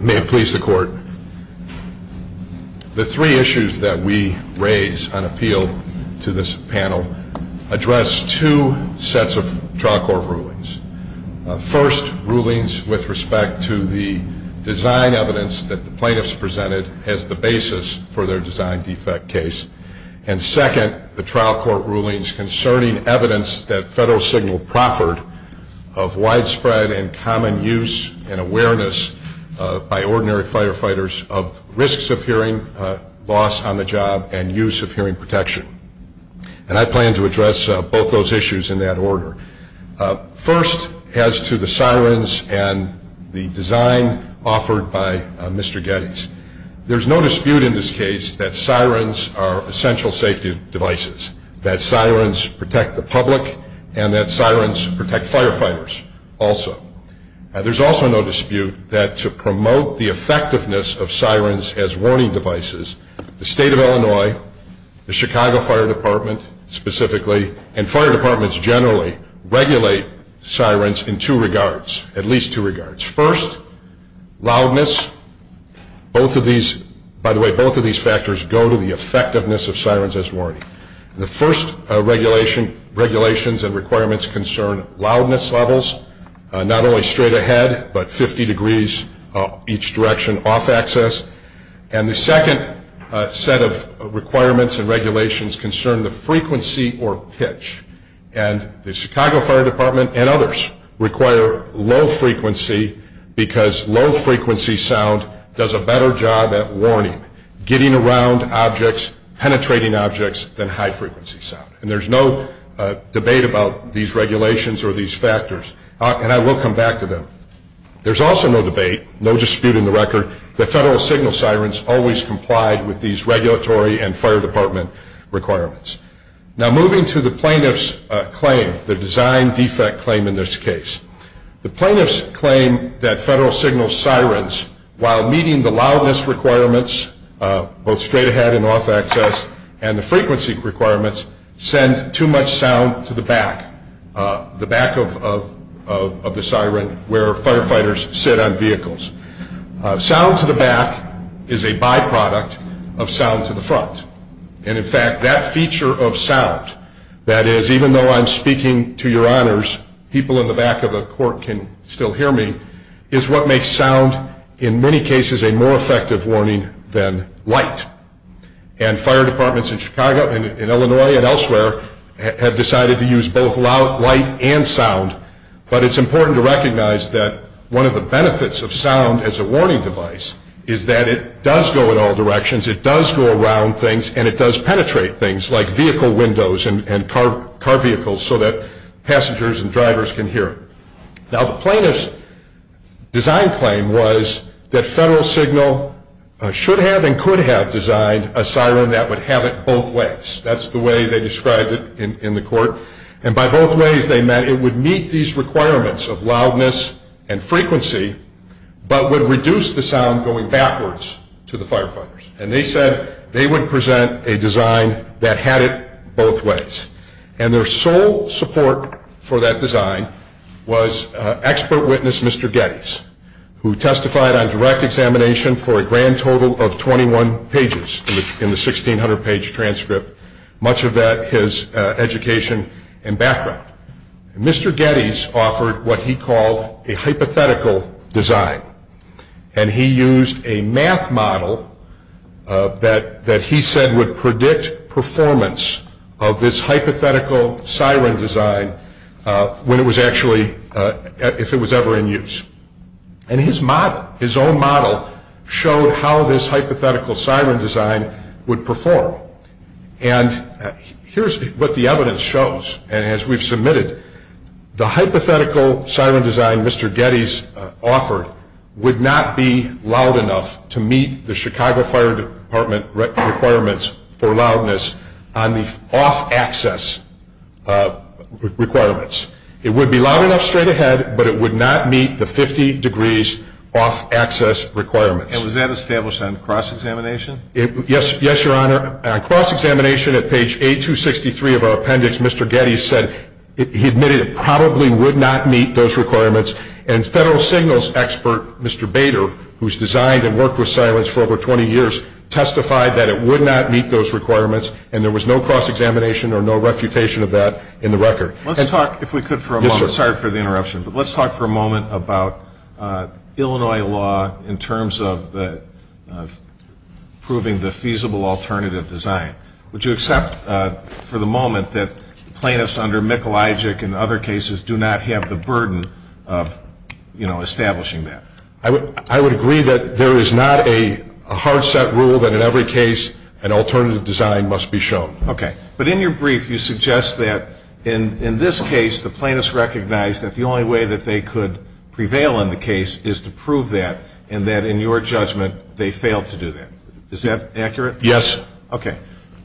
May it please the court. The three issues that we raise on appeal to this panel address two sets of trial court rulings. First, rulings with respect to the design evidence that the plaintiffs presented as the basis for their design defect case. And second, rulings with respect to the design defect case. The trial court rulings concerning evidence that Federal Signal proffered of widespread and common use and awareness by ordinary firefighters of risks of hearing loss on the job and use of hearing protection. And I plan to address both those issues in that order. First, as to the sirens and the design offered by Mr. Gettys. There is no dispute in this case that sirens are essential safety devices. That sirens protect the public and that sirens protect firefighters also. There is also no dispute that to promote the effectiveness of sirens as warning devices, the State of Illinois, the Chicago Fire Department, specifically, and fire departments generally, regulate sirens in two regards. At least two regards. First, loudness. Both of these, by the way, both of these factors go to the effectiveness of sirens as warning. The first regulations and requirements concern loudness levels. Not only straight ahead, but 50 degrees each direction off-axis. And the second set of requirements and regulations concern the frequency or pitch. And the Chicago Fire Department and others require low frequency because low frequency sound does a better job at warning, getting around objects, penetrating objects, than high frequency sound. And there's no debate about these regulations or these factors. And I will come back to them. There's also no debate, no dispute in the record, that federal signal sirens always complied with these regulatory and fire department requirements. Now, moving to the plaintiff's claim, the design defect claim in this case. The plaintiff's claim that federal signal sirens, while meeting the loudness requirements, both straight ahead and off-axis, and the frequency requirements, are effective. But the design defect claim that these requirements send too much sound to the back, the back of the siren where firefighters sit on vehicles. Sound to the back is a byproduct of sound to the front. And in fact, that feature of sound, that is even though I'm speaking to your honors, people in the back of the court can still hear me, is what makes sound in many cases a more effective warning than light. And fire departments in Chicago and Illinois and elsewhere have decided to use both light and sound. But it's important to recognize that one of the benefits of sound as a warning device is that it does go in all directions. It does go around things and it does penetrate things like vehicle windows and car vehicles so that passengers and drivers can hear. Now, the plaintiff's design claim was that federal signal should have and could have designed a siren that would have it both ways. That's the way they described it in the court. And by both ways, they meant it would meet these requirements of loudness and frequency, but would reduce the sound going backwards to the firefighters. And they said they would present a design that had it both ways. And their sole support for that design was expert witness Mr. Geddes, who testified on direct examination for a grand total of 21 pages in the 1600-page transcript, much of that his education and background. Mr. Geddes offered what he called a hypothetical design. And he used a math model that he said would predict performance of this hypothetical design. And he used a math model that he said would predict performance of this hypothetical siren design when it was actually, if it was ever in use. And his model, his own model, showed how this hypothetical siren design would perform. And here's what the evidence shows. And as we've submitted, the hypothetical siren design Mr. Geddes offered would not be loud enough to meet the Chicago Fire Department requirements for loudness on the off-access side. It would be loud enough straight ahead, but it would not meet the 50 degrees off-access requirements. And was that established on cross-examination? Yes, Your Honor. On cross-examination at page 863 of our appendix, Mr. Geddes said he admitted it probably would not meet those requirements. And federal signals expert Mr. Bader, who's designed and worked with sirens for over 20 years, testified that it would not meet those requirements. And there was no cross-examination or no refutation of that in the record. Let's talk, if we could for a moment. Yes, sir. Sorry for the interruption, but let's talk for a moment about Illinois law in terms of proving the feasible alternative design. Would you accept for the moment that plaintiffs under Michelagic and other cases do not have the burden of, you know, establishing that? I would agree that there is not a hard-set rule that in every case an alternative design must be shown. Okay. But in your brief you suggest that in this case the plaintiffs recognized that the only way that they could prevail in the case is to prove that, and that in your judgment they failed to do that. Is that accurate? Yes. Okay.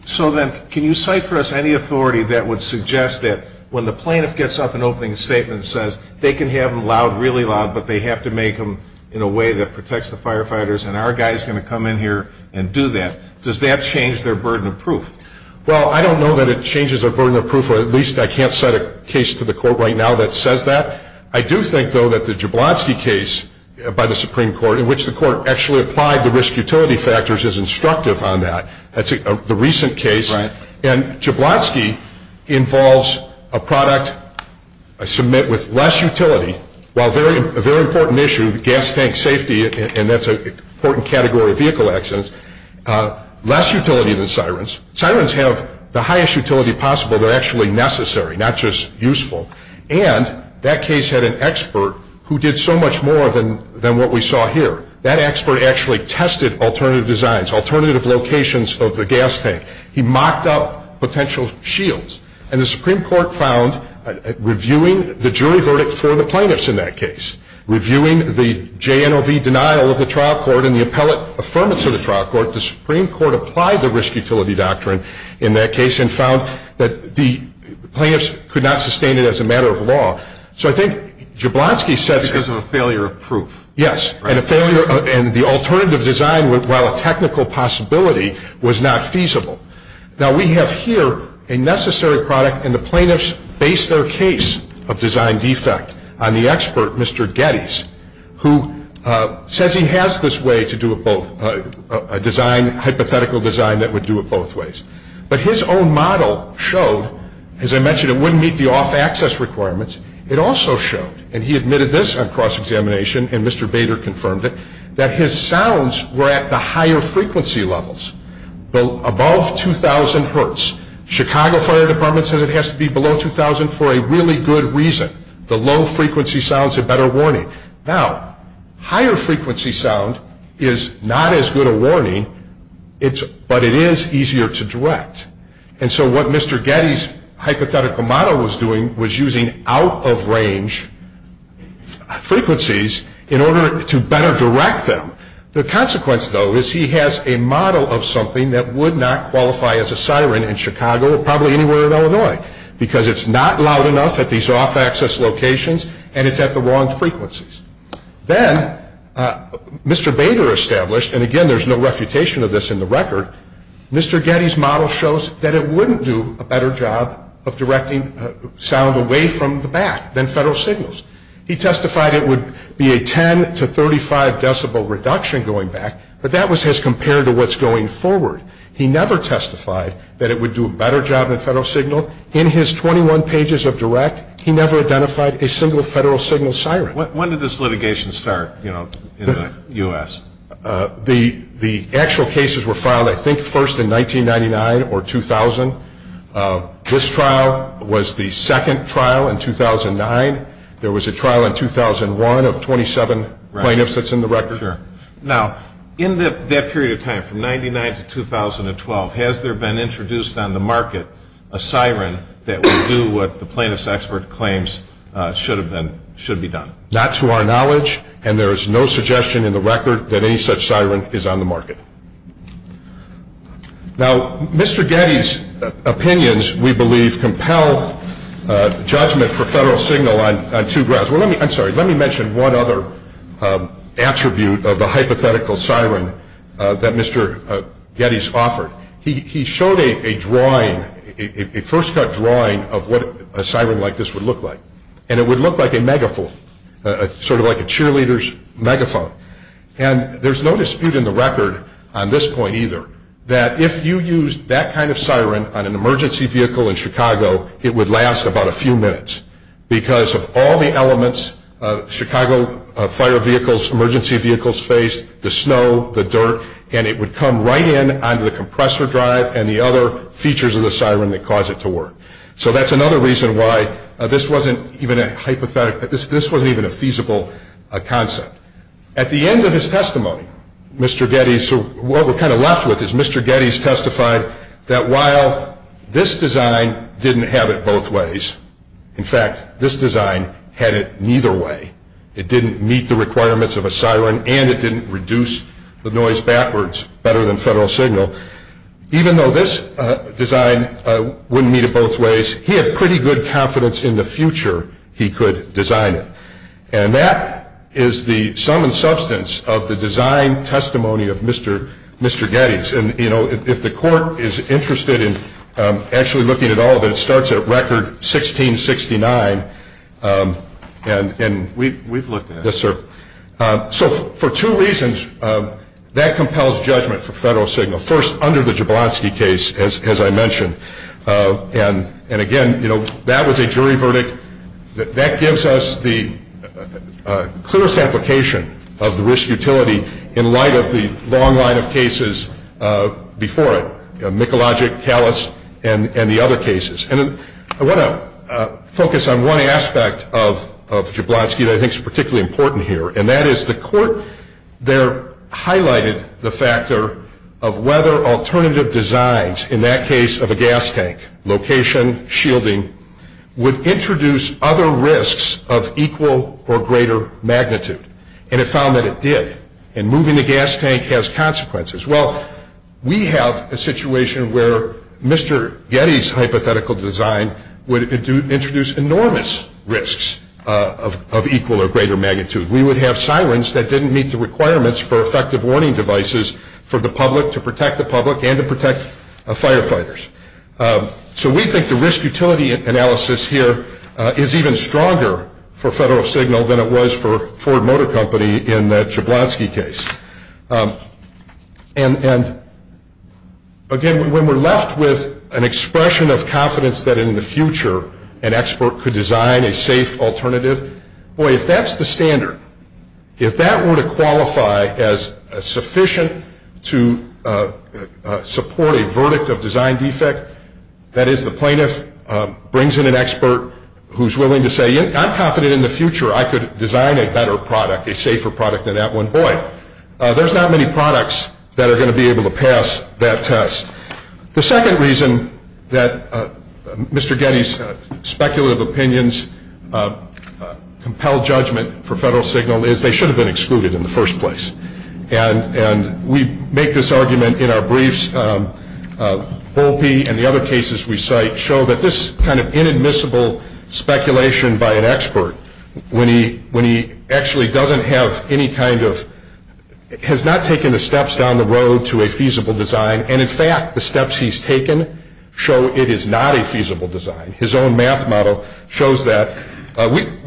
So then can you cite for us any authority that would suggest that when the plaintiff gets up and opening a statement and says they can have them loud, really loud, but they have to make them in a way that protects the firefighters and our guy is going to come in here and do that, does that change their burden of proof? Well, I don't know that it changes their burden of proof, or at least I can't cite a case to the Court right now that says that. I do think, though, that the Jablonski case by the Supreme Court, in which the Court actually applied the risk-utility factors, is instructive on that. That's the recent case. And Jablonski involves a product, I submit, with less utility, while a very important issue, the gas tank safety, and that's an important category of vehicle accidents, less utility than Sirens. Sirens have the highest utility possible. They're actually necessary, not just useful. And that case had an expert who did so much more than what we saw here. That expert actually tested alternative designs, alternative locations of the gas tank. He mocked up potential shields. And the Supreme Court found, reviewing the jury verdict for the plaintiffs in that case, reviewing the JNOV denial of the trial court and the appellate affirmance of the trial court, the Supreme Court applied the risk-utility doctrine in that case and found that the plaintiffs could not sustain it as an issue. It was a matter of law. Because of a failure of proof. Yes, and the alternative design, while a technical possibility, was not feasible. Now, we have here a necessary product, and the plaintiffs base their case of design defect on the expert, Mr. Geddes, who says he has this way to do it both, a hypothetical design that would do it both ways. But his own model showed, as I mentioned, it wouldn't meet the off-access requirements. It also showed, and he admitted this on cross-examination, and Mr. Bader confirmed it, that his sounds were at the higher frequency levels. Above 2,000 hertz. Chicago Fire Department says it has to be below 2,000 for a really good reason. The low frequency sound is a better warning. Now, higher frequency sound is not as good a warning, but it is easier to direct. And so what Mr. Geddes' hypothetical model was doing was using out-of-range frequencies in order to better direct them. The consequence, though, is he has a model of something that would not qualify as a siren in Chicago, probably anywhere in Illinois, because it's not loud enough at these off-access locations, and it's at the wrong frequencies. Then, Mr. Bader established, and again, there's no refutation of this in the record, Mr. Geddes' model shows that it wouldn't do a better job of directing sound away from the back than federal signals. He testified it would be a 10 to 35 decibel reduction going back, but that was as compared to what's going forward. He never testified that it would do a better job than federal signal. In his 21 pages of direct, he never identified a single federal signal siren. When did this litigation start in the U.S.? The actual cases were filed, I think, first in 1999 or 2000. This trial was the second trial in 2009. There was a trial in 2001 of 27 plaintiffs that's in the record. Now, in that period of time, from 1999 to 2012, has there been introduced on the market a siren that would do what the plaintiff's expert claims should have been, should be done? Not to our knowledge, and there is no suggestion in the record that any such siren is on the market. Now, Mr. Geddes' opinions, we believe, compel judgment for federal signal on two grounds. I'm sorry, let me mention one other attribute of the hypothetical siren that Mr. Geddes offered. He showed a drawing, a first-cut drawing of what a siren like this would look like, and it would look like a megaphone, sort of like a cheerleader's megaphone. And there's no dispute in the record on this point, either, that if you used that kind of siren on an emergency vehicle in Chicago, it would last about a few minutes because of all the elements Chicago fire vehicles, emergency vehicles face, the snow, the dirt, and it would come right in onto the compressor drive and the other features of the siren that cause it to work. So that's another reason why this wasn't even a hypothetical, this wasn't even a feasible concept. At the end of his testimony, Mr. Geddes, what we're kind of left with is Mr. Geddes testified that while this design didn't have it both ways, in fact, this design had it neither way. It didn't meet the requirements of a siren, and it didn't reduce the noise backwards better than federal signal. So even though this design wouldn't meet it both ways, he had pretty good confidence in the future he could design it. And that is the sum and substance of the design testimony of Mr. Geddes. And if the court is interested in actually looking at all of it, it starts at record 1669. And we've looked at it. Yes, sir. So for two reasons, that compels judgment for federal signal. First, under the Jablonski case, as I mentioned, and again, that was a jury verdict. That gives us the clearest application of the risk utility in light of the long line of cases before it, Mikulajic, Callas, and the other cases. And I want to focus on one aspect of Jablonski that I think is particularly important here, and that is the court there highlighted the factor of whether alternative designs, in that case of a gas tank, location, shielding, would introduce other risks of equal or greater magnitude. And it found that it did. And moving the gas tank has consequences. Well, we have a situation where Mr. Geddes' hypothetical design would introduce enormous risks of equal or greater magnitude. We would have sirens that didn't meet the requirements for effective warning devices for the public, to protect the public, and to protect firefighters. So we think the risk utility analysis here is even stronger for federal signal than it was for Ford Motor Company in the Jablonski case. And again, when we're left with an expression of confidence that in the future, an expert could design a safe alternative, boy, if that's the standard, if that were to qualify as sufficient to support a verdict of design defect, that is the plaintiff brings in an expert who's willing to say, I'm confident in the future I could design a better product, a safer product than that one. Boy, there's not many products that are going to be able to pass that test. The second reason that Mr. Geddes' speculative opinions compel judgment for federal signal is they should have been excluded in the first place. And we make this argument in our briefs. Holpe and the other cases we cite show that this kind of inadmissible speculation by an expert, when he actually doesn't have any kind of, has not taken the steps down the road to a feasible design, and, in fact, the steps he's taken show it is not a feasible design. His own math model shows that.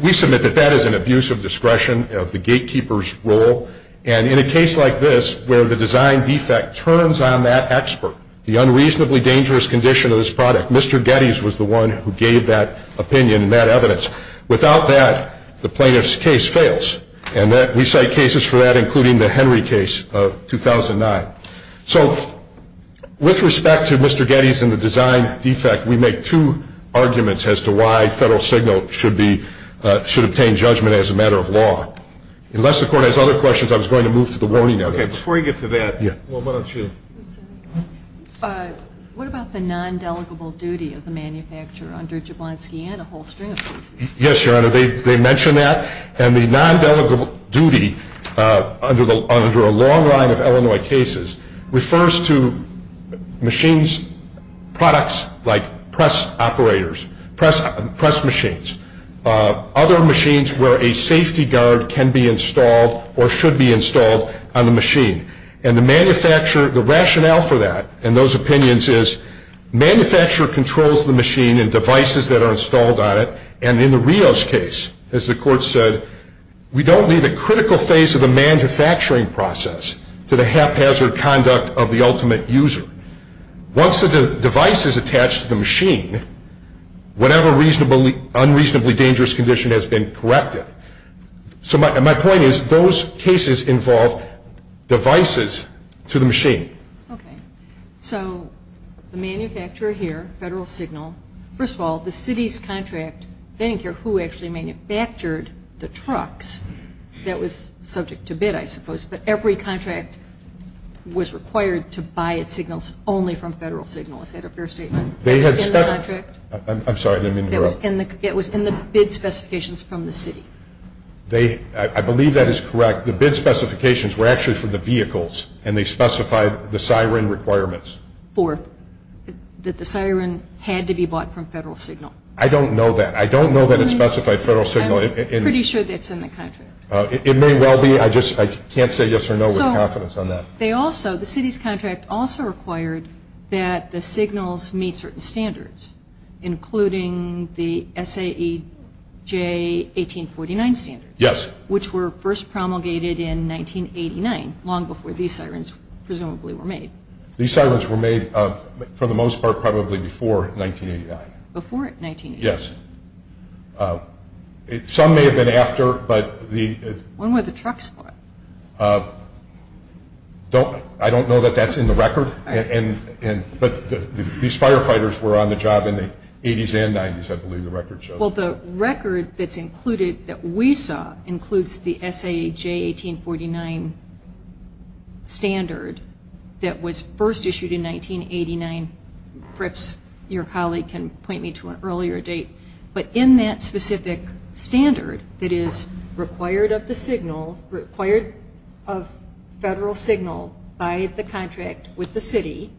We submit that that is an abuse of discretion of the gatekeeper's role. And in a case like this, where the design defect turns on that expert, the unreasonably dangerous condition of this product, Mr. Geddes was the one who gave that opinion and that evidence. Without that, the plaintiff's case fails. And we cite cases for that, including the Henry case of 2009. So with respect to Mr. Geddes and the design defect, we make two arguments as to why federal signal should obtain judgment as a matter of law. Unless the Court has other questions, I was going to move to the warning evidence. Okay, before you get to that, why don't you? What about the non-delegable duty of the manufacturer under Jablonski and a whole string of cases? Yes, Your Honor, they mention that. And the non-delegable duty under a long line of Illinois cases refers to machines, products like press operators, press machines, other machines where a safety guard can be installed or should be installed on the machine. And the rationale for that and those opinions is, manufacturer controls the machine and devices that are installed on it. And in the Rios case, as the Court said, we don't leave a critical phase of the manufacturing process to the haphazard conduct of the ultimate user. Once the device is attached to the machine, whatever unreasonably dangerous condition has been corrected. So my point is, those cases involve devices to the machine. Okay. So the manufacturer here, Federal Signal, first of all, the city's contract, they didn't care who actually manufactured the trucks. That was subject to bid, I suppose. But every contract was required to buy its signals only from Federal Signal. Is that a fair statement? I'm sorry. It was in the bid specifications from the city. I believe that is correct. The bid specifications were actually for the vehicles, and they specified the siren requirements. That the siren had to be bought from Federal Signal. I don't know that. I don't know that it specified Federal Signal. I'm pretty sure that's in the contract. It may well be. I just can't say yes or no with confidence on that. They also, the city's contract also required that the signals meet certain standards, including the SAE J1849 standards. Yes. Which were first promulgated in 1989, long before these sirens presumably were made. These sirens were made, for the most part, probably before 1989. Before 1989. Yes. Some may have been after, but the When were the trucks bought? I don't know that that's in the record. But these firefighters were on the job in the 80s and 90s, I believe the record shows. Well, the record that's included that we saw includes the SAE J1849 standard that was first issued in 1989. Perhaps your colleague can point me to an earlier date. But in that specific standard that is required of the signal, required of Federal Signal by the contract with the city,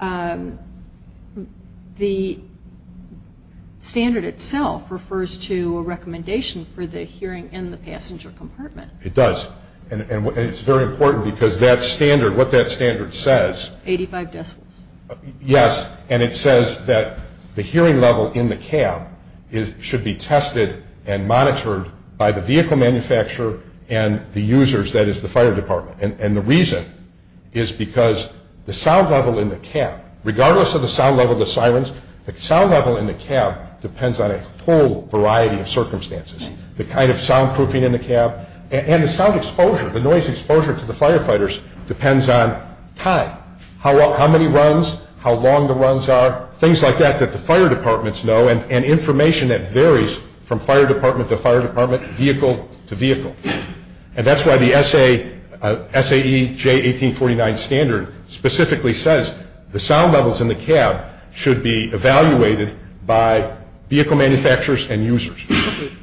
the standard itself refers to a recommendation for the hearing in the passenger compartment. It does. And it's very important because that standard, what that standard says 85 decibels. Yes. And it says that the hearing level in the cab should be tested and monitored by the vehicle manufacturer and the users, that is, the fire department. And the reason is because the sound level in the cab, regardless of the sound level of the sirens, the sound level in the cab depends on a whole variety of circumstances. The kind of soundproofing in the cab and the sound exposure, the noise exposure to the firefighters depends on time. How many runs, how long the runs are, things like that that the fire departments know and information that varies from fire department to fire department, vehicle to vehicle. And that's why the SAE J1849 standard specifically says the sound levels in the cab should be evaluated by vehicle manufacturers and users.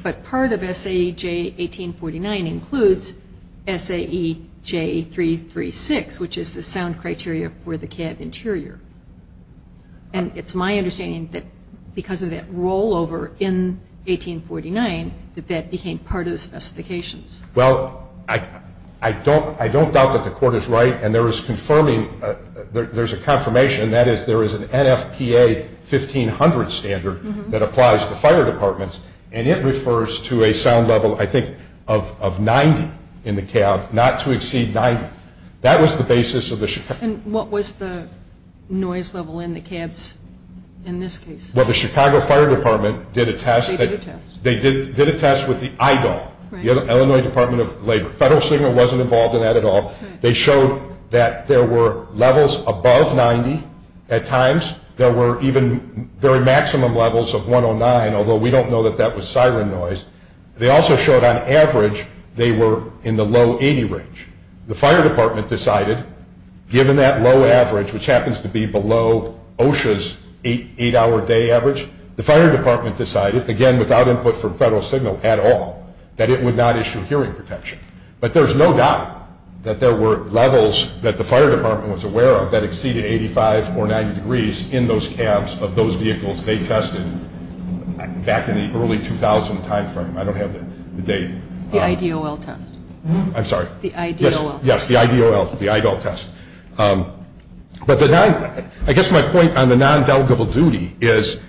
But part of SAE J1849 includes SAE J336, which is the sound criteria for the cab interior. And it's my understanding that because of that rollover in 1849 that that became part of the specifications. Well, I don't doubt that the Court is right. And there is confirming, there's a confirmation, and that is there is an NFPA 1500 standard that applies to fire departments, and it refers to a sound level, I think, of 90 in the cab, not to exceed 90. That was the basis of the Chicago. And what was the noise level in the cabs in this case? Well, the Chicago Fire Department did a test. They did a test. They did a test with the EIDL, the Illinois Department of Labor. Federal Signal wasn't involved in that at all. They showed that there were levels above 90 at times. There were even very maximum levels of 109, although we don't know that that was siren noise. They also showed on average they were in the low 80 range. The Fire Department decided, given that low average, which happens to be below OSHA's 8-hour-a-day average, the Fire Department decided, again, without input from Federal Signal at all, that it would not issue hearing protection. But there's no doubt that there were levels that the Fire Department was aware of that exceeded 85 or 90 degrees in those cabs of those vehicles they tested back in the early 2000 timeframe. I don't have the date. The IDOL test. I'm sorry? The IDOL test. Yes, the IDOL test. But I guess my point on the non-delegable duty is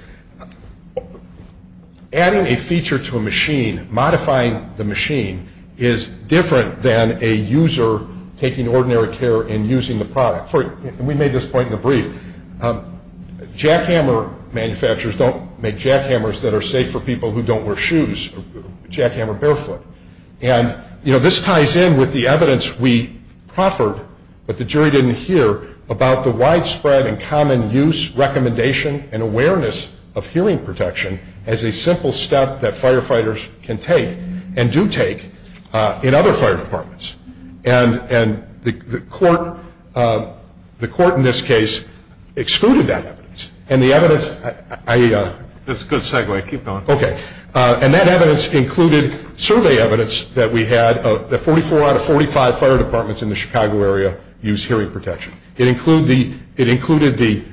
adding a feature to a machine, modifying the machine, is different than a user taking ordinary care and using the product. And we made this point in the brief. Jackhammer manufacturers don't make jackhammers that are safe for people who don't wear shoes. Jackhammer barefoot. And, you know, this ties in with the evidence we proffered, but the jury didn't hear, about the widespread and common use, recommendation, and awareness of hearing protection as a simple step that firefighters can take and do take in other fire departments. And the court in this case excluded that evidence. And the evidence I... That's a good segue. Keep going. Okay. And that evidence included survey evidence that we had, that 44 out of 45 fire departments in the Chicago area use hearing protection. It included the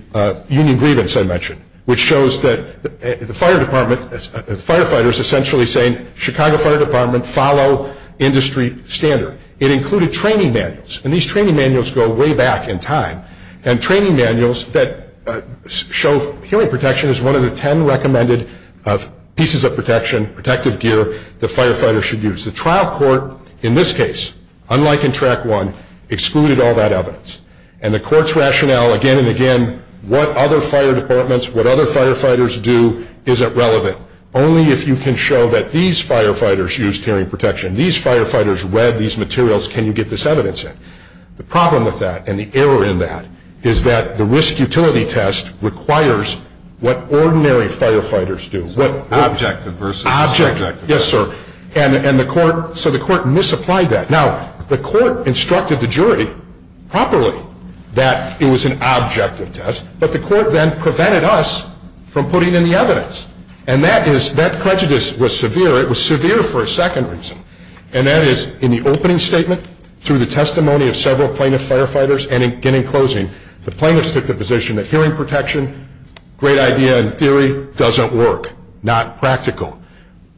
union grievance I mentioned, which shows that the firefighters essentially saying, Chicago Fire Department, follow industry standard. It included training manuals. And these training manuals go way back in time. And training manuals that show hearing protection is one of the ten recommended pieces of protection, protective gear, that firefighters should use. The trial court in this case, unlike in Track 1, excluded all that evidence. And the court's rationale again and again, what other fire departments, what other firefighters do, isn't relevant. Only if you can show that these firefighters use hearing protection, these firefighters wear these materials, can you get this evidence in. The problem with that and the error in that is that the risk utility test requires what ordinary firefighters do. Objective versus subjective. Yes, sir. And the court, so the court misapplied that. Now, the court instructed the jury properly that it was an objective test, but the court then prevented us from putting in the evidence. And that prejudice was severe. It was severe for a second reason. And that is in the opening statement, through the testimony of several plaintiff firefighters, and again in closing, the plaintiffs took the position that hearing protection, great idea in theory, doesn't work, not practical.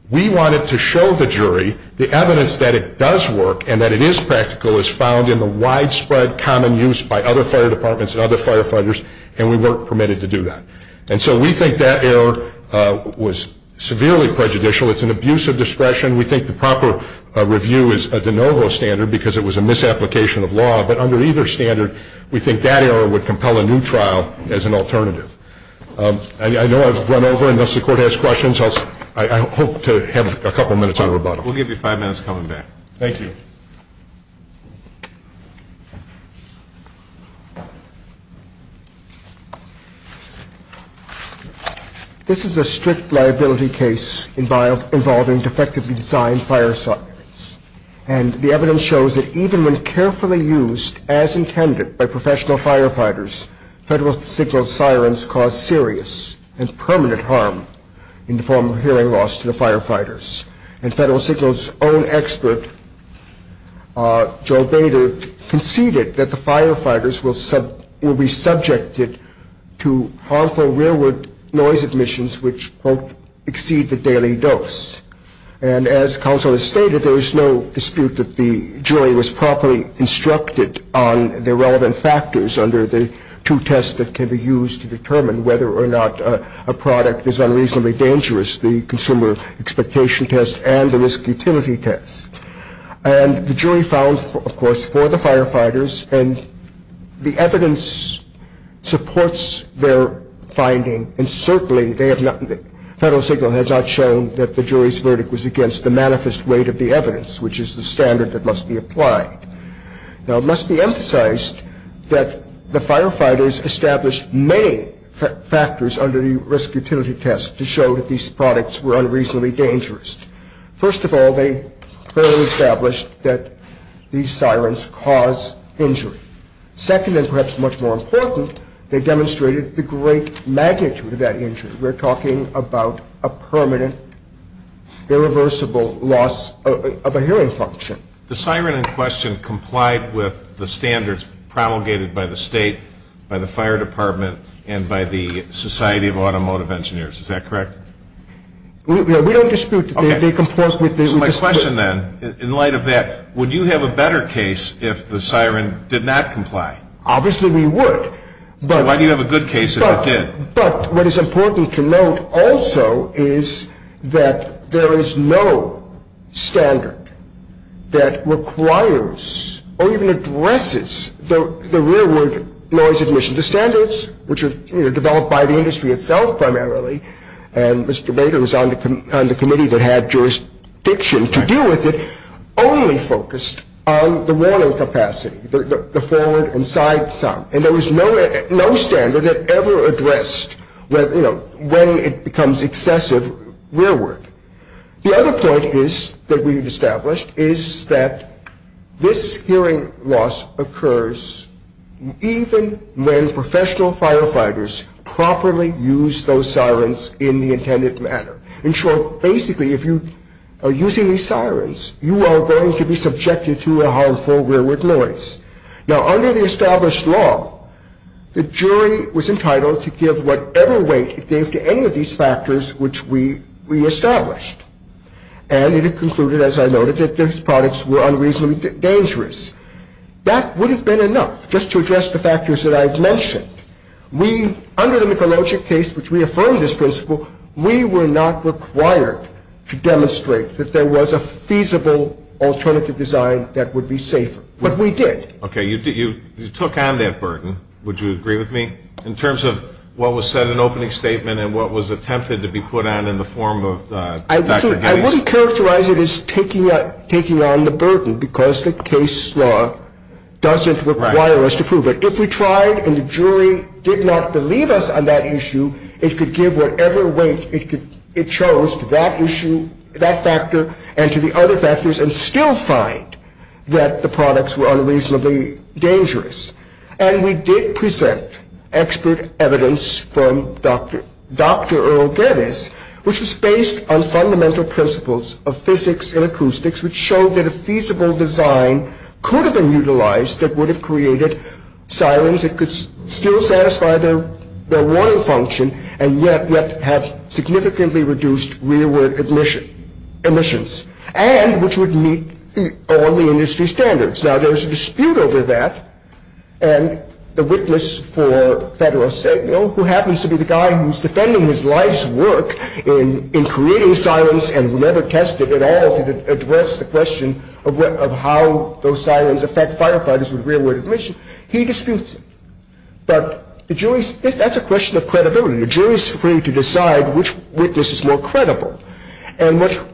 We wanted to show the jury the evidence that it does work and that it is practical is found in the widespread common use by other fire departments and other firefighters, and we weren't permitted to do that. And so we think that error was severely prejudicial. It's an abuse of discretion. We think the proper review is a de novo standard because it was a misapplication of law. But under either standard, we think that error would compel a new trial as an alternative. I know I've run over and thus the court has questions. I hope to have a couple minutes on rebuttal. We'll give you five minutes coming back. Thank you. This is a strict liability case involving defectively designed fire sirens, and the evidence shows that even when carefully used as intended by professional firefighters, Federal Signal sirens cause serious and permanent harm in the form of hearing loss to the firefighters. And Federal Signal's own expert, Joe Bader, conceded that the firefighters will be subjected to harmful rearward noise emissions which won't exceed the daily dose. And as counsel has stated, there is no dispute that the jury was properly instructed on the relevant factors under the two tests that can be used to determine whether or not a product is unreasonably dangerous, the consumer expectation test and the risk utility test. And the jury found, of course, for the firefighters, and the evidence supports their finding, and certainly Federal Signal has not shown that the jury's verdict was against the manifest weight of the evidence, which is the standard that must be applied. Now, it must be emphasized that the firefighters established many factors under the risk utility test to show that these products were unreasonably dangerous. First of all, they clearly established that these sirens cause injury. Second, and perhaps much more important, they demonstrated the great magnitude of that injury. We're talking about a permanent, irreversible loss of a hearing function. The siren in question complied with the standards promulgated by the State, by the Fire Department, and by the Society of Automotive Engineers. Is that correct? We don't dispute that they complied with this. So my question then, in light of that, would you have a better case if the siren did not comply? Obviously we would. Why do you have a good case if it did? But what is important to note also is that there is no standard that requires or even addresses the real-world noise admission. The standards, which are developed by the industry itself primarily, and Mr. Bader was on the committee that had jurisdiction to deal with it, only focused on the warning capacity, the forward and side sound. And there was no standard that ever addressed when it becomes excessive rearward. The other point that we've established is that this hearing loss occurs even when professional firefighters properly use those sirens in the intended manner. In short, basically if you are using these sirens, you are going to be subjected to a harmful rearward noise. Now under the established law, the jury was entitled to give whatever weight it gave to any of these factors which we established. And it had concluded, as I noted, that these products were unreasonably dangerous. That would have been enough just to address the factors that I've mentioned. We, under the Mikulogic case, which we affirmed this principle, we were not required to demonstrate that there was a feasible alternative design that would be safer. But we did. Okay. You took on that burden. Would you agree with me in terms of what was said in the opening statement and what was attempted to be put on in the form of Dr. Gettys? I wouldn't characterize it as taking on the burden because the case law doesn't require us to prove it. If we tried and the jury did not believe us on that issue, it could give whatever weight it chose to that issue, that factor, and to the other factors and still find that the products were unreasonably dangerous. And we did present expert evidence from Dr. Earl Gettys, which was based on fundamental principles of physics and acoustics, which showed that a feasible design could have been utilized that would have created sirens that could still satisfy their warning function and yet have significantly reduced rearward emissions and which would meet all the industry standards. Now, there's a dispute over that, and the witness for Federal Signal, who happens to be the guy who's defending his life's work in creating sirens and who never tested at all to address the question of how those sirens affect firefighters with rearward emissions, he disputes it. But that's a question of credibility. The jury is free to decide which witness is more credible. And what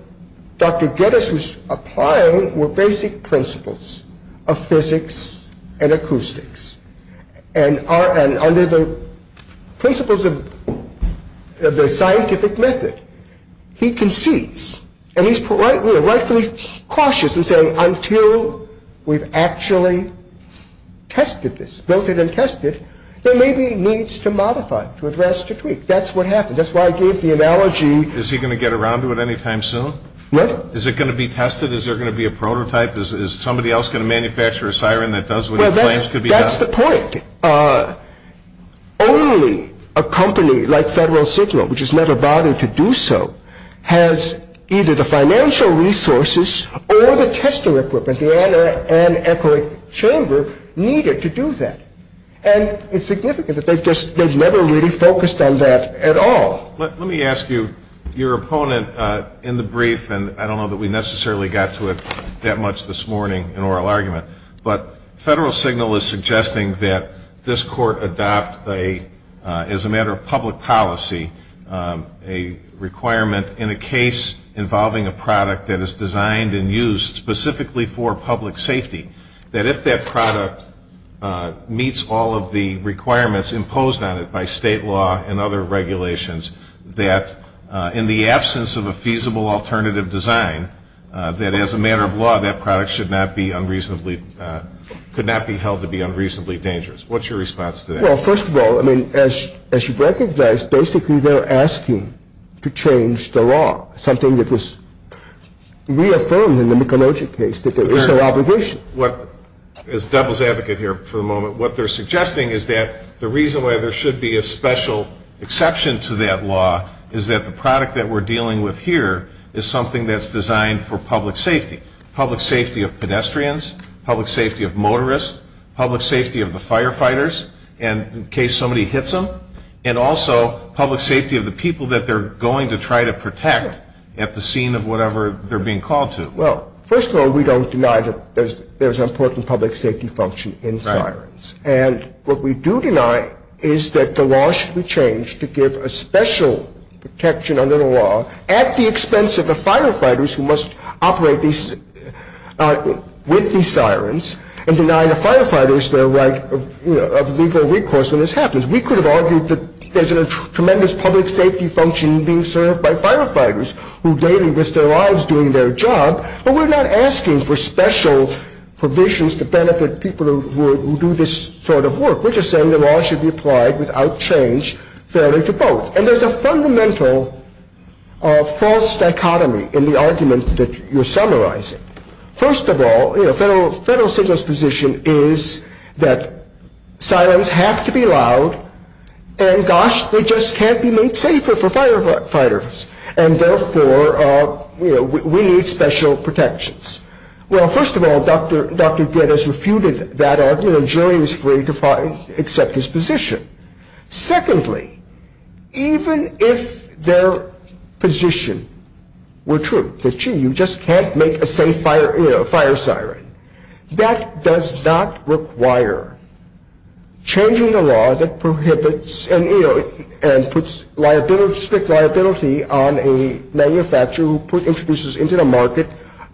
Dr. Gettys was applying were basic principles of physics and acoustics. And under the principles of the scientific method, he concedes, and he's rightfully cautious in saying until we've actually tested this, built it and tested it, there may be needs to modify it, to address, to tweak. That's what happened. That's why I gave the analogy. Is he going to get around to it any time soon? What? Is it going to be tested? Is there going to be a prototype? Is somebody else going to manufacture a siren that does what he claims could be done? Well, that's the point. Only a company like Federal Signal, which has never bothered to do so, has either the financial resources or the testing equipment. The Anna Ann Eckerich Chamber needed to do that. And it's significant that they've never really focused on that at all. Let me ask you, your opponent in the brief, and I don't know that we necessarily got to it that much this morning in oral argument, but Federal Signal is suggesting that this court adopt, as a matter of public policy, a requirement in a case involving a product that is designed and used specifically for public safety, that if that product meets all of the requirements imposed on it by state law and other regulations, that in the absence of a feasible alternative design, that as a matter of law, that product should not be unreasonably, could not be held to be unreasonably dangerous. What's your response to that? Well, first of all, I mean, as you recognize, basically they're asking to change the law, something that was reaffirmed in the Mickelogic case, that there is no obligation. As devil's advocate here for the moment, what they're suggesting is that the reason why there should be a special exception to that law is that the product that we're dealing with here is something that's designed for public safety, public safety of pedestrians, public safety of motorists, public safety of the firefighters in case somebody hits them, and also public safety of the people that they're going to try to protect at the scene of whatever they're being called to. Well, first of all, we don't deny that there's an important public safety function in sirens. And what we do deny is that the law should be changed to give a special protection under the law at the expense of the firefighters who must operate with these sirens and deny the firefighters their right of legal recourse when this happens. We could have argued that there's a tremendous public safety function being served by firefighters who daily risk their lives doing their job, but we're not asking for special provisions to benefit people who do this sort of work. We're just saying the law should be applied without change fairly to both. And there's a fundamental false dichotomy in the argument that you're summarizing. First of all, you know, federal signals position is that sirens have to be loud, and gosh, they just can't be made safer for firefighters. And therefore, you know, we need special protections. Well, first of all, Dr. Giddes refuted that argument, and Julian is free to accept his position. Secondly, even if their position were true, that, gee, you just can't make a safe fire siren, that does not require changing the law that prohibits and, you know, and puts strict liability on a manufacturer who introduces into the market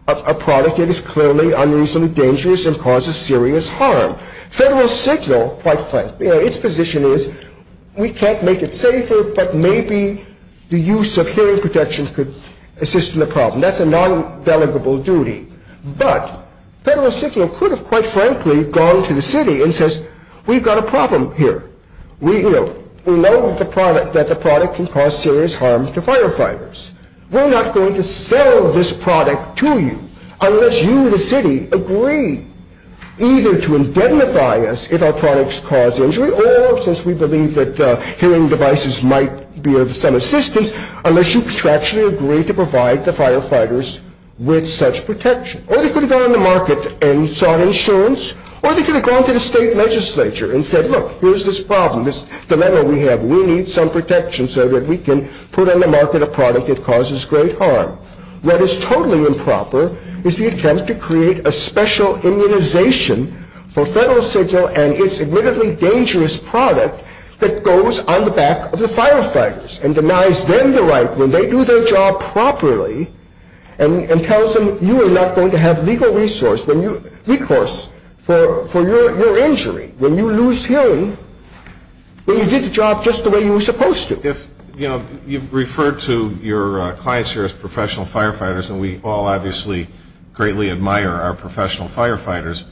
a product that is clearly unreasonably dangerous and causes serious harm. Federal signal, quite frankly, you know, its position is we can't make it safer, but maybe the use of hearing protection could assist in the problem. That's a non-delegable duty. But federal signal could have, quite frankly, gone to the city and says, we've got a problem here. We know that the product can cause serious harm to firefighters. We're not going to sell this product to you unless you, the city, agree either to indemnify us if our products cause injury or, since we believe that hearing devices might be of some assistance, unless you contractually agree to provide the firefighters with such protection. Or they could have gone on the market and sought insurance, or they could have gone to the state legislature and said, look, here's this problem, this dilemma we have. We need some protection so that we can put on the market a product that causes great harm. What is totally improper is the attempt to create a special immunization for federal signal and its admittedly dangerous product that goes on the back of the firefighters and denies them the right when they do their job properly and tells them you are not going to have legal recourse for your injury when you lose hearing when you did the job just the way you were supposed to. You know, you've referred to your clients here as professional firefighters, and we all obviously greatly admire our professional firefighters.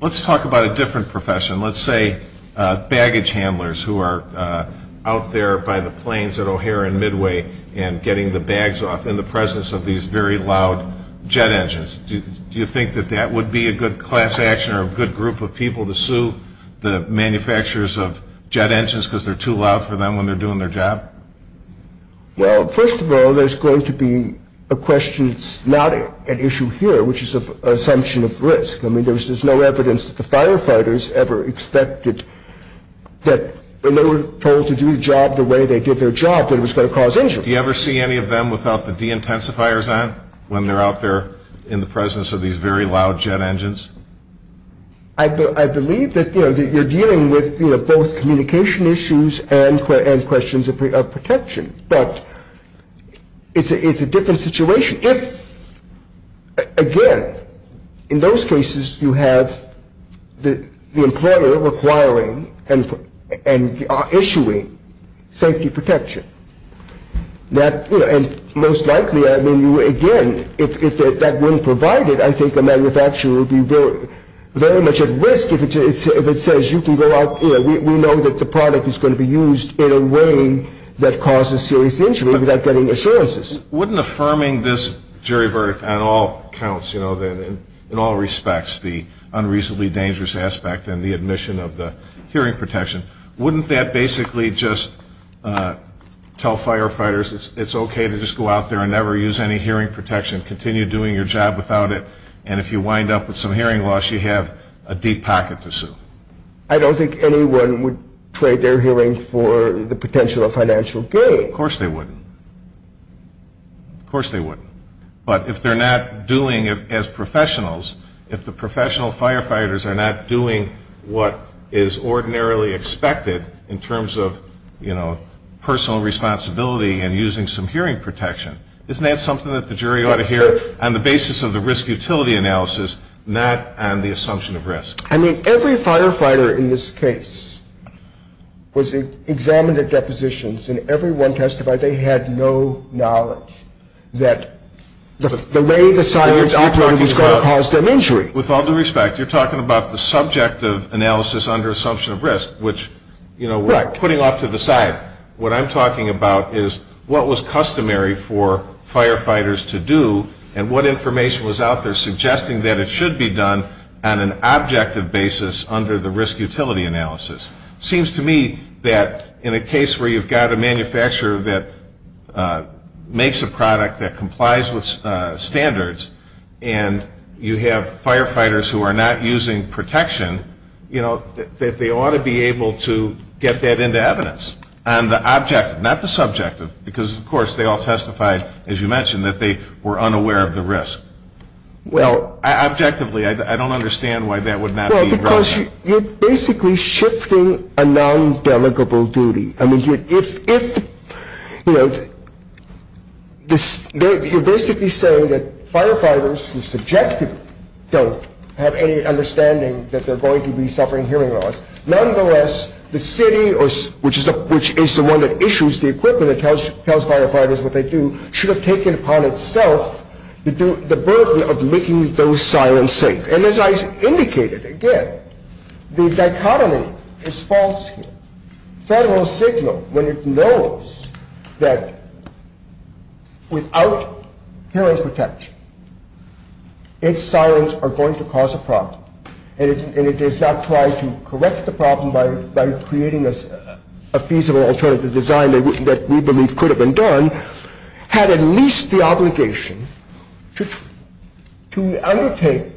Let's talk about a different profession. Let's say baggage handlers who are out there by the planes at O'Hare and Midway and getting the bags off in the presence of these very loud jet engines. Do you think that that would be a good class action or a good group of people to sue the manufacturers of jet engines because they're too loud for them when they're doing their job? Well, first of all, there's going to be a question that's not an issue here, which is an assumption of risk. I mean, there's no evidence that the firefighters ever expected that when they were told to do the job the way they did their job that it was going to cause injury. Do you ever see any of them without the de-intensifiers on when they're out there in the presence of these very loud jet engines? I believe that you're dealing with both communication issues and questions of protection, but it's a different situation. I mean, if, again, in those cases you have the employer requiring and issuing safety protection, and most likely, I mean, again, if that weren't provided, I think a manufacturer would be very much at risk if it says you can go out, we know that the product is going to be used in a way that causes serious injury without getting assurances. Wouldn't affirming this jury verdict on all counts, you know, in all respects, the unreasonably dangerous aspect and the admission of the hearing protection, wouldn't that basically just tell firefighters it's okay to just go out there and never use any hearing protection, continue doing your job without it, and if you wind up with some hearing loss you have a deep pocket to sue? I don't think anyone would trade their hearing for the potential of financial gain. Of course they wouldn't. Of course they wouldn't. But if they're not doing, as professionals, if the professional firefighters are not doing what is ordinarily expected in terms of, you know, personal responsibility and using some hearing protection, isn't that something that the jury ought to hear on the basis of the risk utility analysis, not on the assumption of risk? I mean, every firefighter in this case was examined at depositions, and everyone testified they had no knowledge that the way the sirens operated was going to cause them injury. With all due respect, you're talking about the subject of analysis under assumption of risk, which, you know, we're putting off to the side. What I'm talking about is what was customary for firefighters to do and what information was out there suggesting that it should be done on an objective basis under the risk utility analysis. It seems to me that in a case where you've got a manufacturer that makes a product that complies with standards and you have firefighters who are not using protection, you know, that they ought to be able to get that into evidence on the objective, not the subjective, because, of course, they all testified, as you mentioned, that they were unaware of the risk. Well, objectively, I don't understand why that would not be a good idea. Well, because you're basically shifting a non-delegable duty. I mean, if, you know, you're basically saying that firefighters who are subjective don't have any understanding that they're going to be suffering hearing loss. Nonetheless, the city, which is the one that issues the equipment and tells firefighters what they do, should have taken upon itself the burden of making those sirens safe. And as I indicated, again, the dichotomy is false here. Federal signal, when it knows that without hearing protection, its sirens are going to cause a problem, and it is not trying to correct the problem by creating a feasible alternative design that we believe could have been done, had at least the obligation to undertake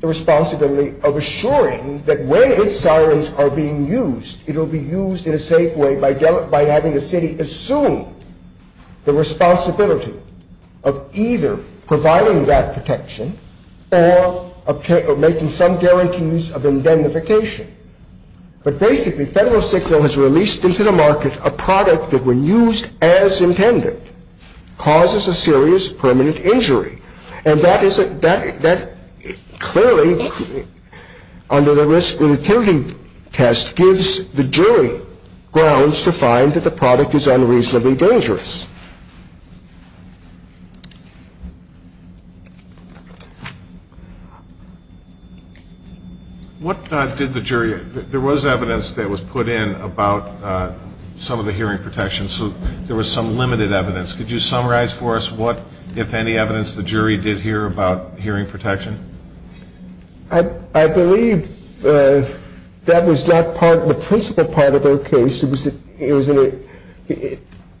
the responsibility of assuring that when its sirens are being used, it will be used in a safe way by having the city assume the responsibility of either providing that protection or making some guarantees of indemnification. But basically, federal signal has released into the market a product that, when used as intended, causes a serious permanent injury. And that clearly, under the risk and utility test, gives the jury grounds to find that the product is unreasonably dangerous. What did the jury do? There was evidence that was put in about some of the hearing protection, so there was some limited evidence. Could you summarize for us what, if any, evidence the jury did hear about hearing protection? I believe that was not the principal part of their case.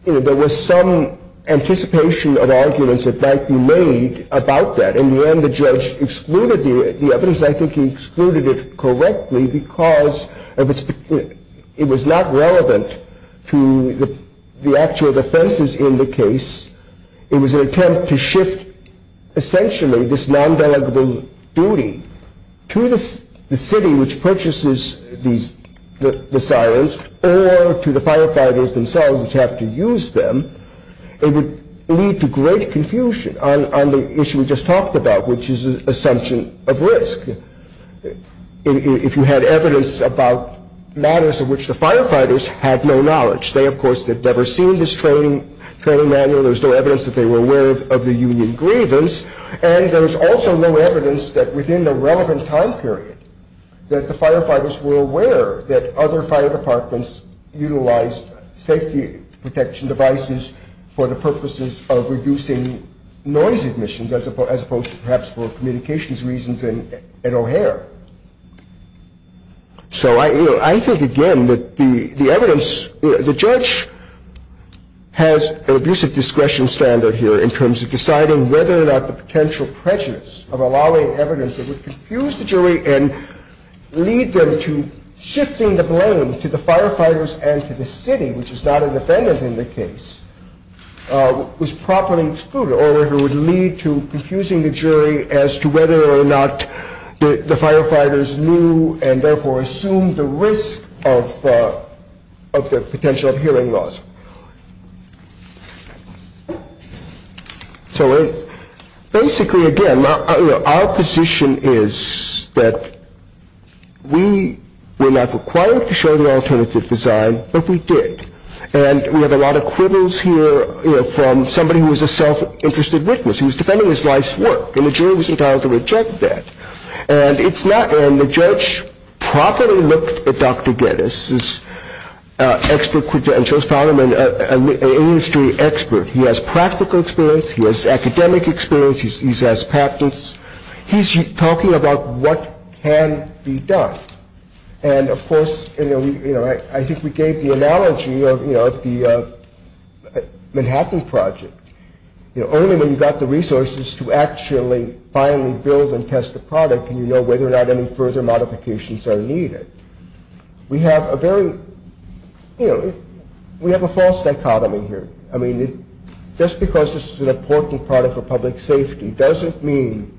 There was some anticipation of arguments that might be made about that, and when the judge excluded the evidence, I think he excluded it correctly because it was not relevant to the actual defenses in the case. It was an attempt to shift, essentially, this non-valuable duty to the city, which purchases the sirens, or to the firefighters themselves, which have to use them. It would lead to great confusion on the issue we just talked about, which is the assumption of risk. If you had evidence about matters of which the firefighters had no knowledge, they, of course, had never seen this training manual. There was no evidence that they were aware of the union grievance, and there was also no evidence that, within the relevant time period, that the firefighters were aware that other fire departments utilized safety protection devices for the purposes of reducing noise emissions, as opposed to, perhaps, for communications reasons at O'Hare. So I think, again, that the evidence, the judge has an abusive discretion standard here in terms of deciding whether or not the potential prejudice of allowing evidence that would confuse the jury and lead them to shifting the blame to the firefighters and to the city, which is not a defendant in the case, was properly excluded, or whether it would lead to confusing the jury as to whether or not the firefighters knew and, therefore, assumed the risk of the potential of hearing loss. So basically, again, our position is that we were not required to show the alternative design, but we did. And we have a lot of quibbles here from somebody who was a self-interested witness, who was defending his life's work, and the jury was entitled to reject that. And the judge properly looked at Dr. Geddes' expert credentials, found him an industry expert. He has practical experience, he has academic experience, he has patents. He's talking about what can be done. And, of course, I think we gave the analogy of the Manhattan Project. You know, only when you've got the resources to actually finally build and test the product can you know whether or not any further modifications are needed. We have a very, you know, we have a false dichotomy here. I mean, just because this is an important product for public safety doesn't mean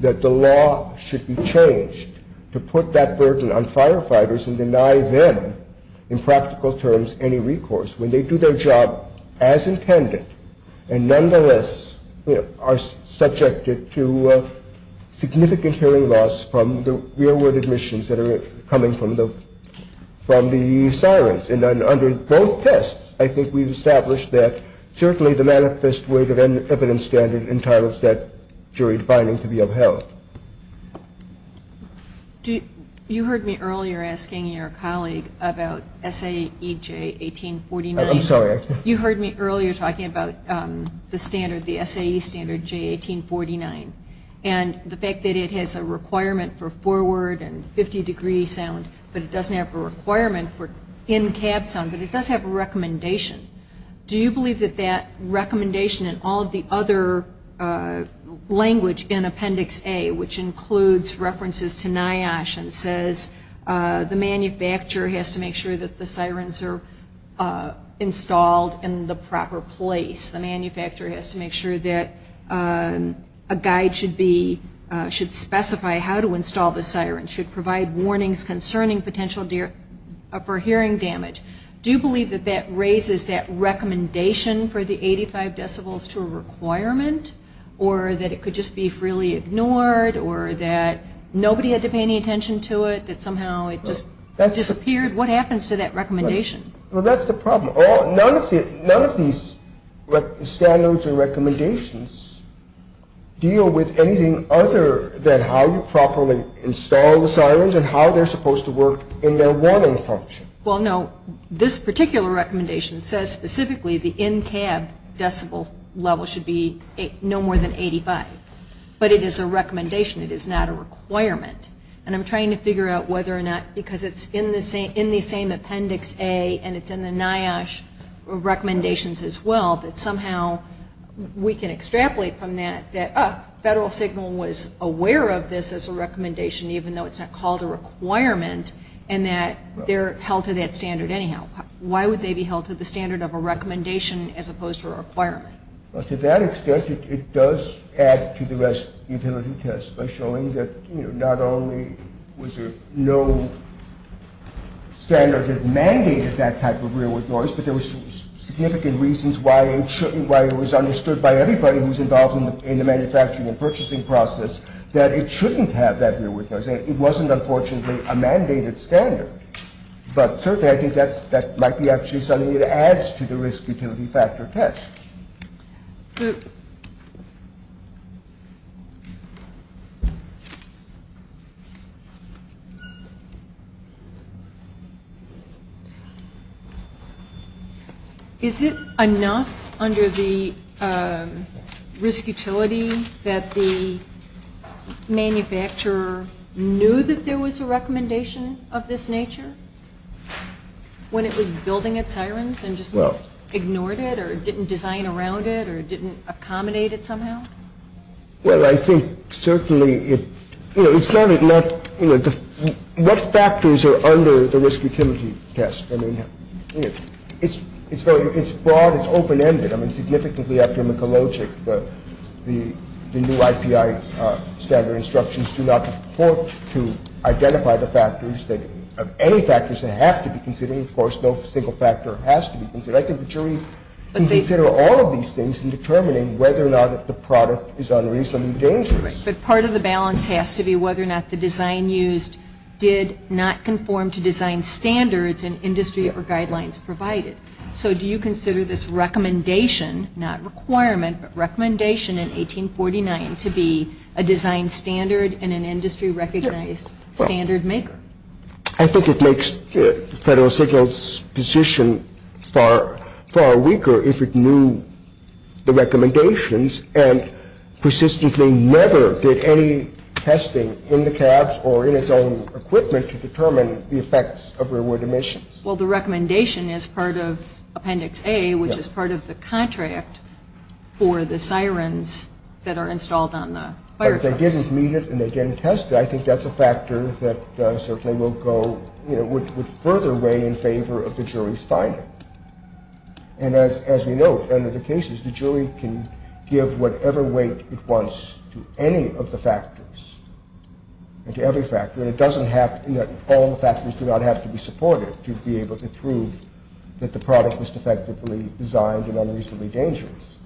that the law should be changed to put that burden on firefighters and deny them, in practical terms, any recourse. When they do their job as intended and nonetheless are subjected to significant hearing loss from the rearward admissions that are coming from the sirens. And under both tests, I think we've established that certainly the manifest weight of evidence standard entitles that jury defining to be upheld. You heard me earlier asking your colleague about SAE J1849. I'm sorry. You heard me earlier talking about the standard, the SAE standard J1849, and the fact that it has a requirement for forward and 50-degree sound, but it doesn't have a requirement for in-cab sound, but it does have a recommendation. Do you believe that that recommendation and all of the other language in Appendix A, which includes references to NIOSH and says the manufacturer has to make sure that the sirens are installed in the proper place, the manufacturer has to make sure that a guide should specify how to install the siren, should provide warnings concerning potential for hearing damage, do you believe that that raises that recommendation for the 85 decibels to a requirement or that it could just be freely ignored or that nobody had to pay any attention to it, that somehow it just disappeared? What happens to that recommendation? Well, that's the problem. None of these standards and recommendations deal with anything other than how you properly install the sirens and how they're supposed to work in their warning function. Well, no, this particular recommendation says specifically the in-cab decibel level should be no more than 85, but it is a recommendation. It is not a requirement, and I'm trying to figure out whether or not, because it's in the same Appendix A and it's in the NIOSH recommendations as well, that somehow we can extrapolate from that that Federal Signal was aware of this as a recommendation, even though it's not called a requirement, and that they're held to that standard anyhow. Why would they be held to the standard of a recommendation as opposed to a requirement? Well, to that extent, it does add to the rest utility test by showing that, you know, not only was there no standard that mandated that type of rearward noise, but there were significant reasons why it shouldn't, why it was understood by everybody who was involved in the manufacturing and purchasing process that it shouldn't have that rearward noise. It wasn't, unfortunately, a mandated standard, but certainly I think that might be actually something that adds to the risk utility factor test. Is it enough under the risk utility that the manufacturer knew that there was a recommendation of this nature when it was building its sirens and just ignored it or didn't design around it or didn't accommodate it somehow? Well, I think certainly it, you know, it's not enough, you know, what factors are under the risk utility test? I mean, it's broad, it's open-ended. I mean, significantly after McElogic, any factors that have to be considered, of course, no single factor has to be considered. I think the jury can consider all of these things in determining whether or not the product is unreasonably dangerous. But part of the balance has to be whether or not the design used did not conform to design standards and industry or guidelines provided. So do you consider this recommendation, not requirement, but recommendation in 1849 to be a design standard and an industry-recognized standard maker? I think it makes Federal Signals' position far weaker if it knew the recommendations and persistently never did any testing in the cabs or in its own equipment to determine the effects of rearward emissions. Well, the recommendation is part of Appendix A, which is part of the contract for the sirens that are installed on the fire trucks. But if they didn't meet it and they didn't test it, I think that's a factor that certainly will go, you know, would further weigh in favor of the jury's finding. And as we note, under the cases, the jury can give whatever weight it wants to any of the factors and to every factor, but it doesn't have to be that all the factors do not have to be supported to be able to prove that the product was defectively designed and unreasonably dangerous.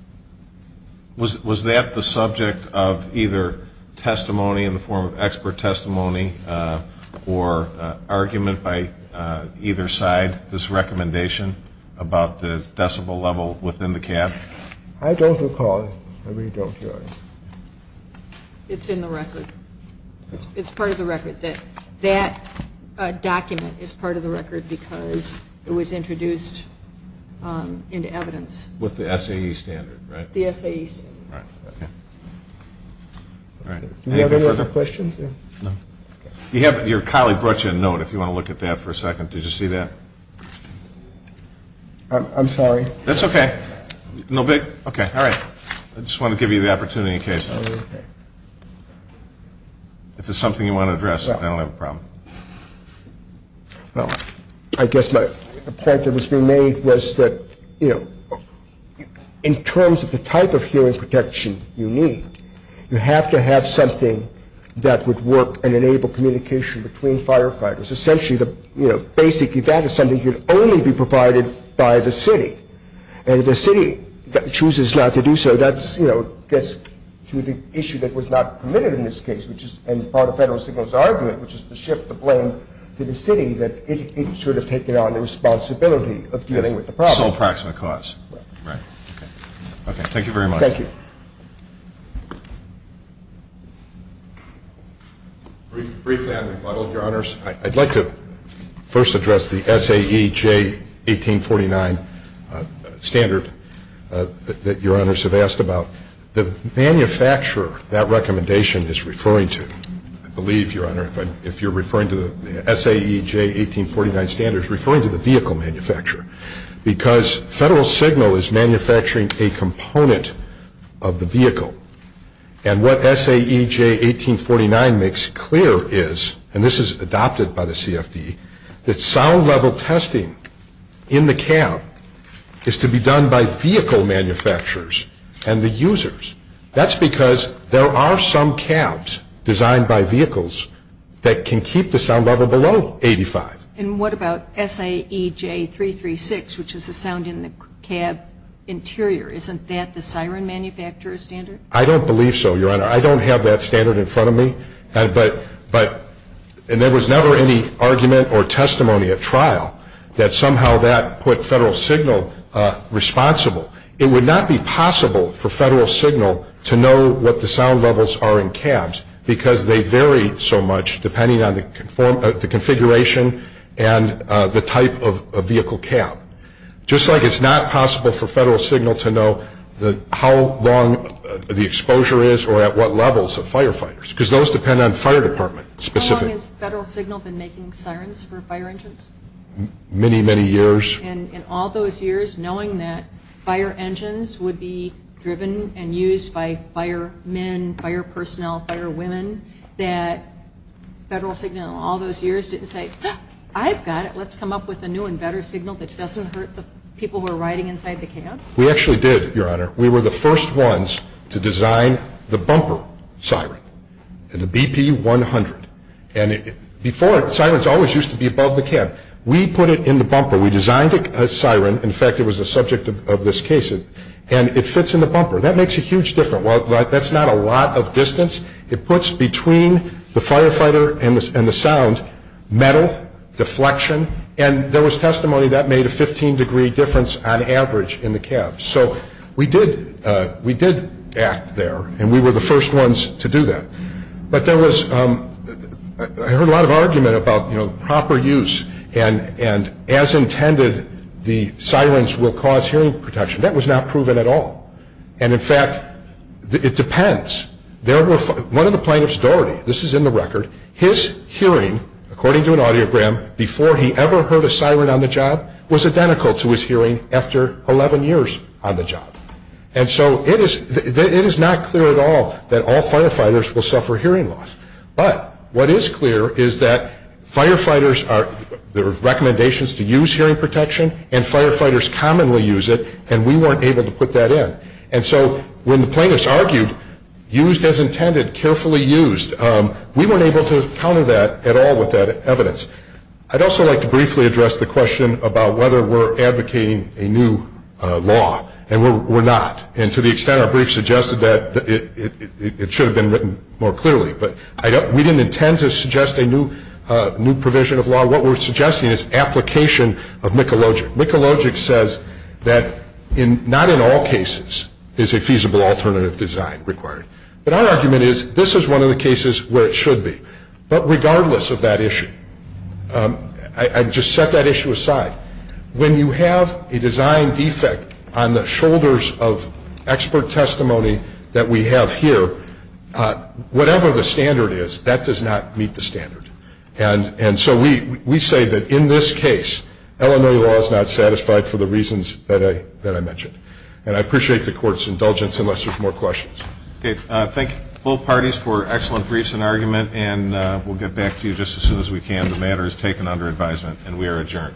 Was that the subject of either testimony in the form of expert testimony or argument by either side, this recommendation, about the decibel level within the cab? I don't recall. I really don't, Your Honor. It's in the record. It's part of the record that that document is part of the record because it was introduced into evidence. With the SAE standard, right? The SAE standard. All right. Okay. All right. Anything further? Do we have any other questions? No. Your colleague brought you a note if you want to look at that for a second. Did you see that? I'm sorry. That's okay. No big? Okay. All right. I just want to give you the opportunity in case if there's something you want to address. I don't have a problem. Well, I guess my point that was being made was that, you know, in terms of the type of hearing protection you need, you have to have something that would work and enable communication between firefighters. Essentially, the basic event is something that can only be provided by the city. And if the city chooses not to do so, that, you know, gets to the issue that was not permitted in this case, which is part of Federal Signal's argument, which is to shift the blame to the city, that it should have taken on the responsibility of dealing with the problem. Sole proximate cause. Right. Right. Okay. Okay. Thank you very much. Thank you. Briefly, I'm rebuttal, Your Honors. I'd like to first address the SAEJ 1849 standard that Your Honors have asked about. The manufacturer that recommendation is referring to, I believe, Your Honor, if you're referring to the SAEJ 1849 standards, referring to the vehicle manufacturer, because Federal Signal is manufacturing a component of the vehicle. And what SAEJ 1849 makes clear is, and this is adopted by the CFD, that sound level testing in the cab is to be done by vehicle manufacturers and the users. That's because there are some cabs designed by vehicles that can keep the sound level below 85. And what about SAEJ 336, which is the sound in the cab interior? Isn't that the siren manufacturer standard? I don't believe so, Your Honor. I don't have that standard in front of me. And there was never any argument or testimony at trial that somehow that put Federal Signal responsible. It would not be possible for Federal Signal to know what the sound levels are in cabs, because they vary so much depending on the configuration and the type of vehicle cab. Just like it's not possible for Federal Signal to know how long the exposure is or at what levels of firefighters, because those depend on fire department specifically. How long has Federal Signal been making sirens for fire engines? Many, many years. And in all those years, knowing that fire engines would be driven and used by firemen, fire personnel, firewomen, that Federal Signal in all those years didn't say, I've got it. Is there a new and better signal that doesn't hurt the people who are riding inside the cab? We actually did, Your Honor. We were the first ones to design the bumper siren, the BP-100. And before, sirens always used to be above the cab. We put it in the bumper. We designed a siren. In fact, it was the subject of this case. And it fits in the bumper. That makes a huge difference. That's not a lot of distance. It puts between the firefighter and the sound metal deflection. And there was testimony that made a 15-degree difference on average in the cab. So we did act there, and we were the first ones to do that. But there was ñ I heard a lot of argument about proper use and as intended the sirens will cause hearing protection. That was not proven at all. And, in fact, it depends. One of the plaintiffs, Doherty, this is in the record, his hearing, according to an audiogram, before he ever heard a siren on the job, was identical to his hearing after 11 years on the job. And so it is not clear at all that all firefighters will suffer hearing loss. But what is clear is that firefighters are ñ there are recommendations to use hearing protection, and firefighters commonly use it, and we weren't able to put that in. And so when the plaintiffs argued, used as intended, carefully used, we weren't able to counter that at all with that evidence. I'd also like to briefly address the question about whether we're advocating a new law. And we're not. And to the extent our brief suggested that, it should have been written more clearly. But we didn't intend to suggest a new provision of law. What we're suggesting is application of Mikulogic. Mikulogic says that not in all cases is a feasible alternative design required. But our argument is this is one of the cases where it should be. But regardless of that issue, I'd just set that issue aside. When you have a design defect on the shoulders of expert testimony that we have here, whatever the standard is, that does not meet the standard. And so we say that in this case, Illinois law is not satisfied for the reasons that I mentioned. And I appreciate the Court's indulgence, unless there's more questions. Okay. Thank both parties for excellent briefs and argument. And we'll get back to you just as soon as we can. The matter is taken under advisement, and we are adjourned.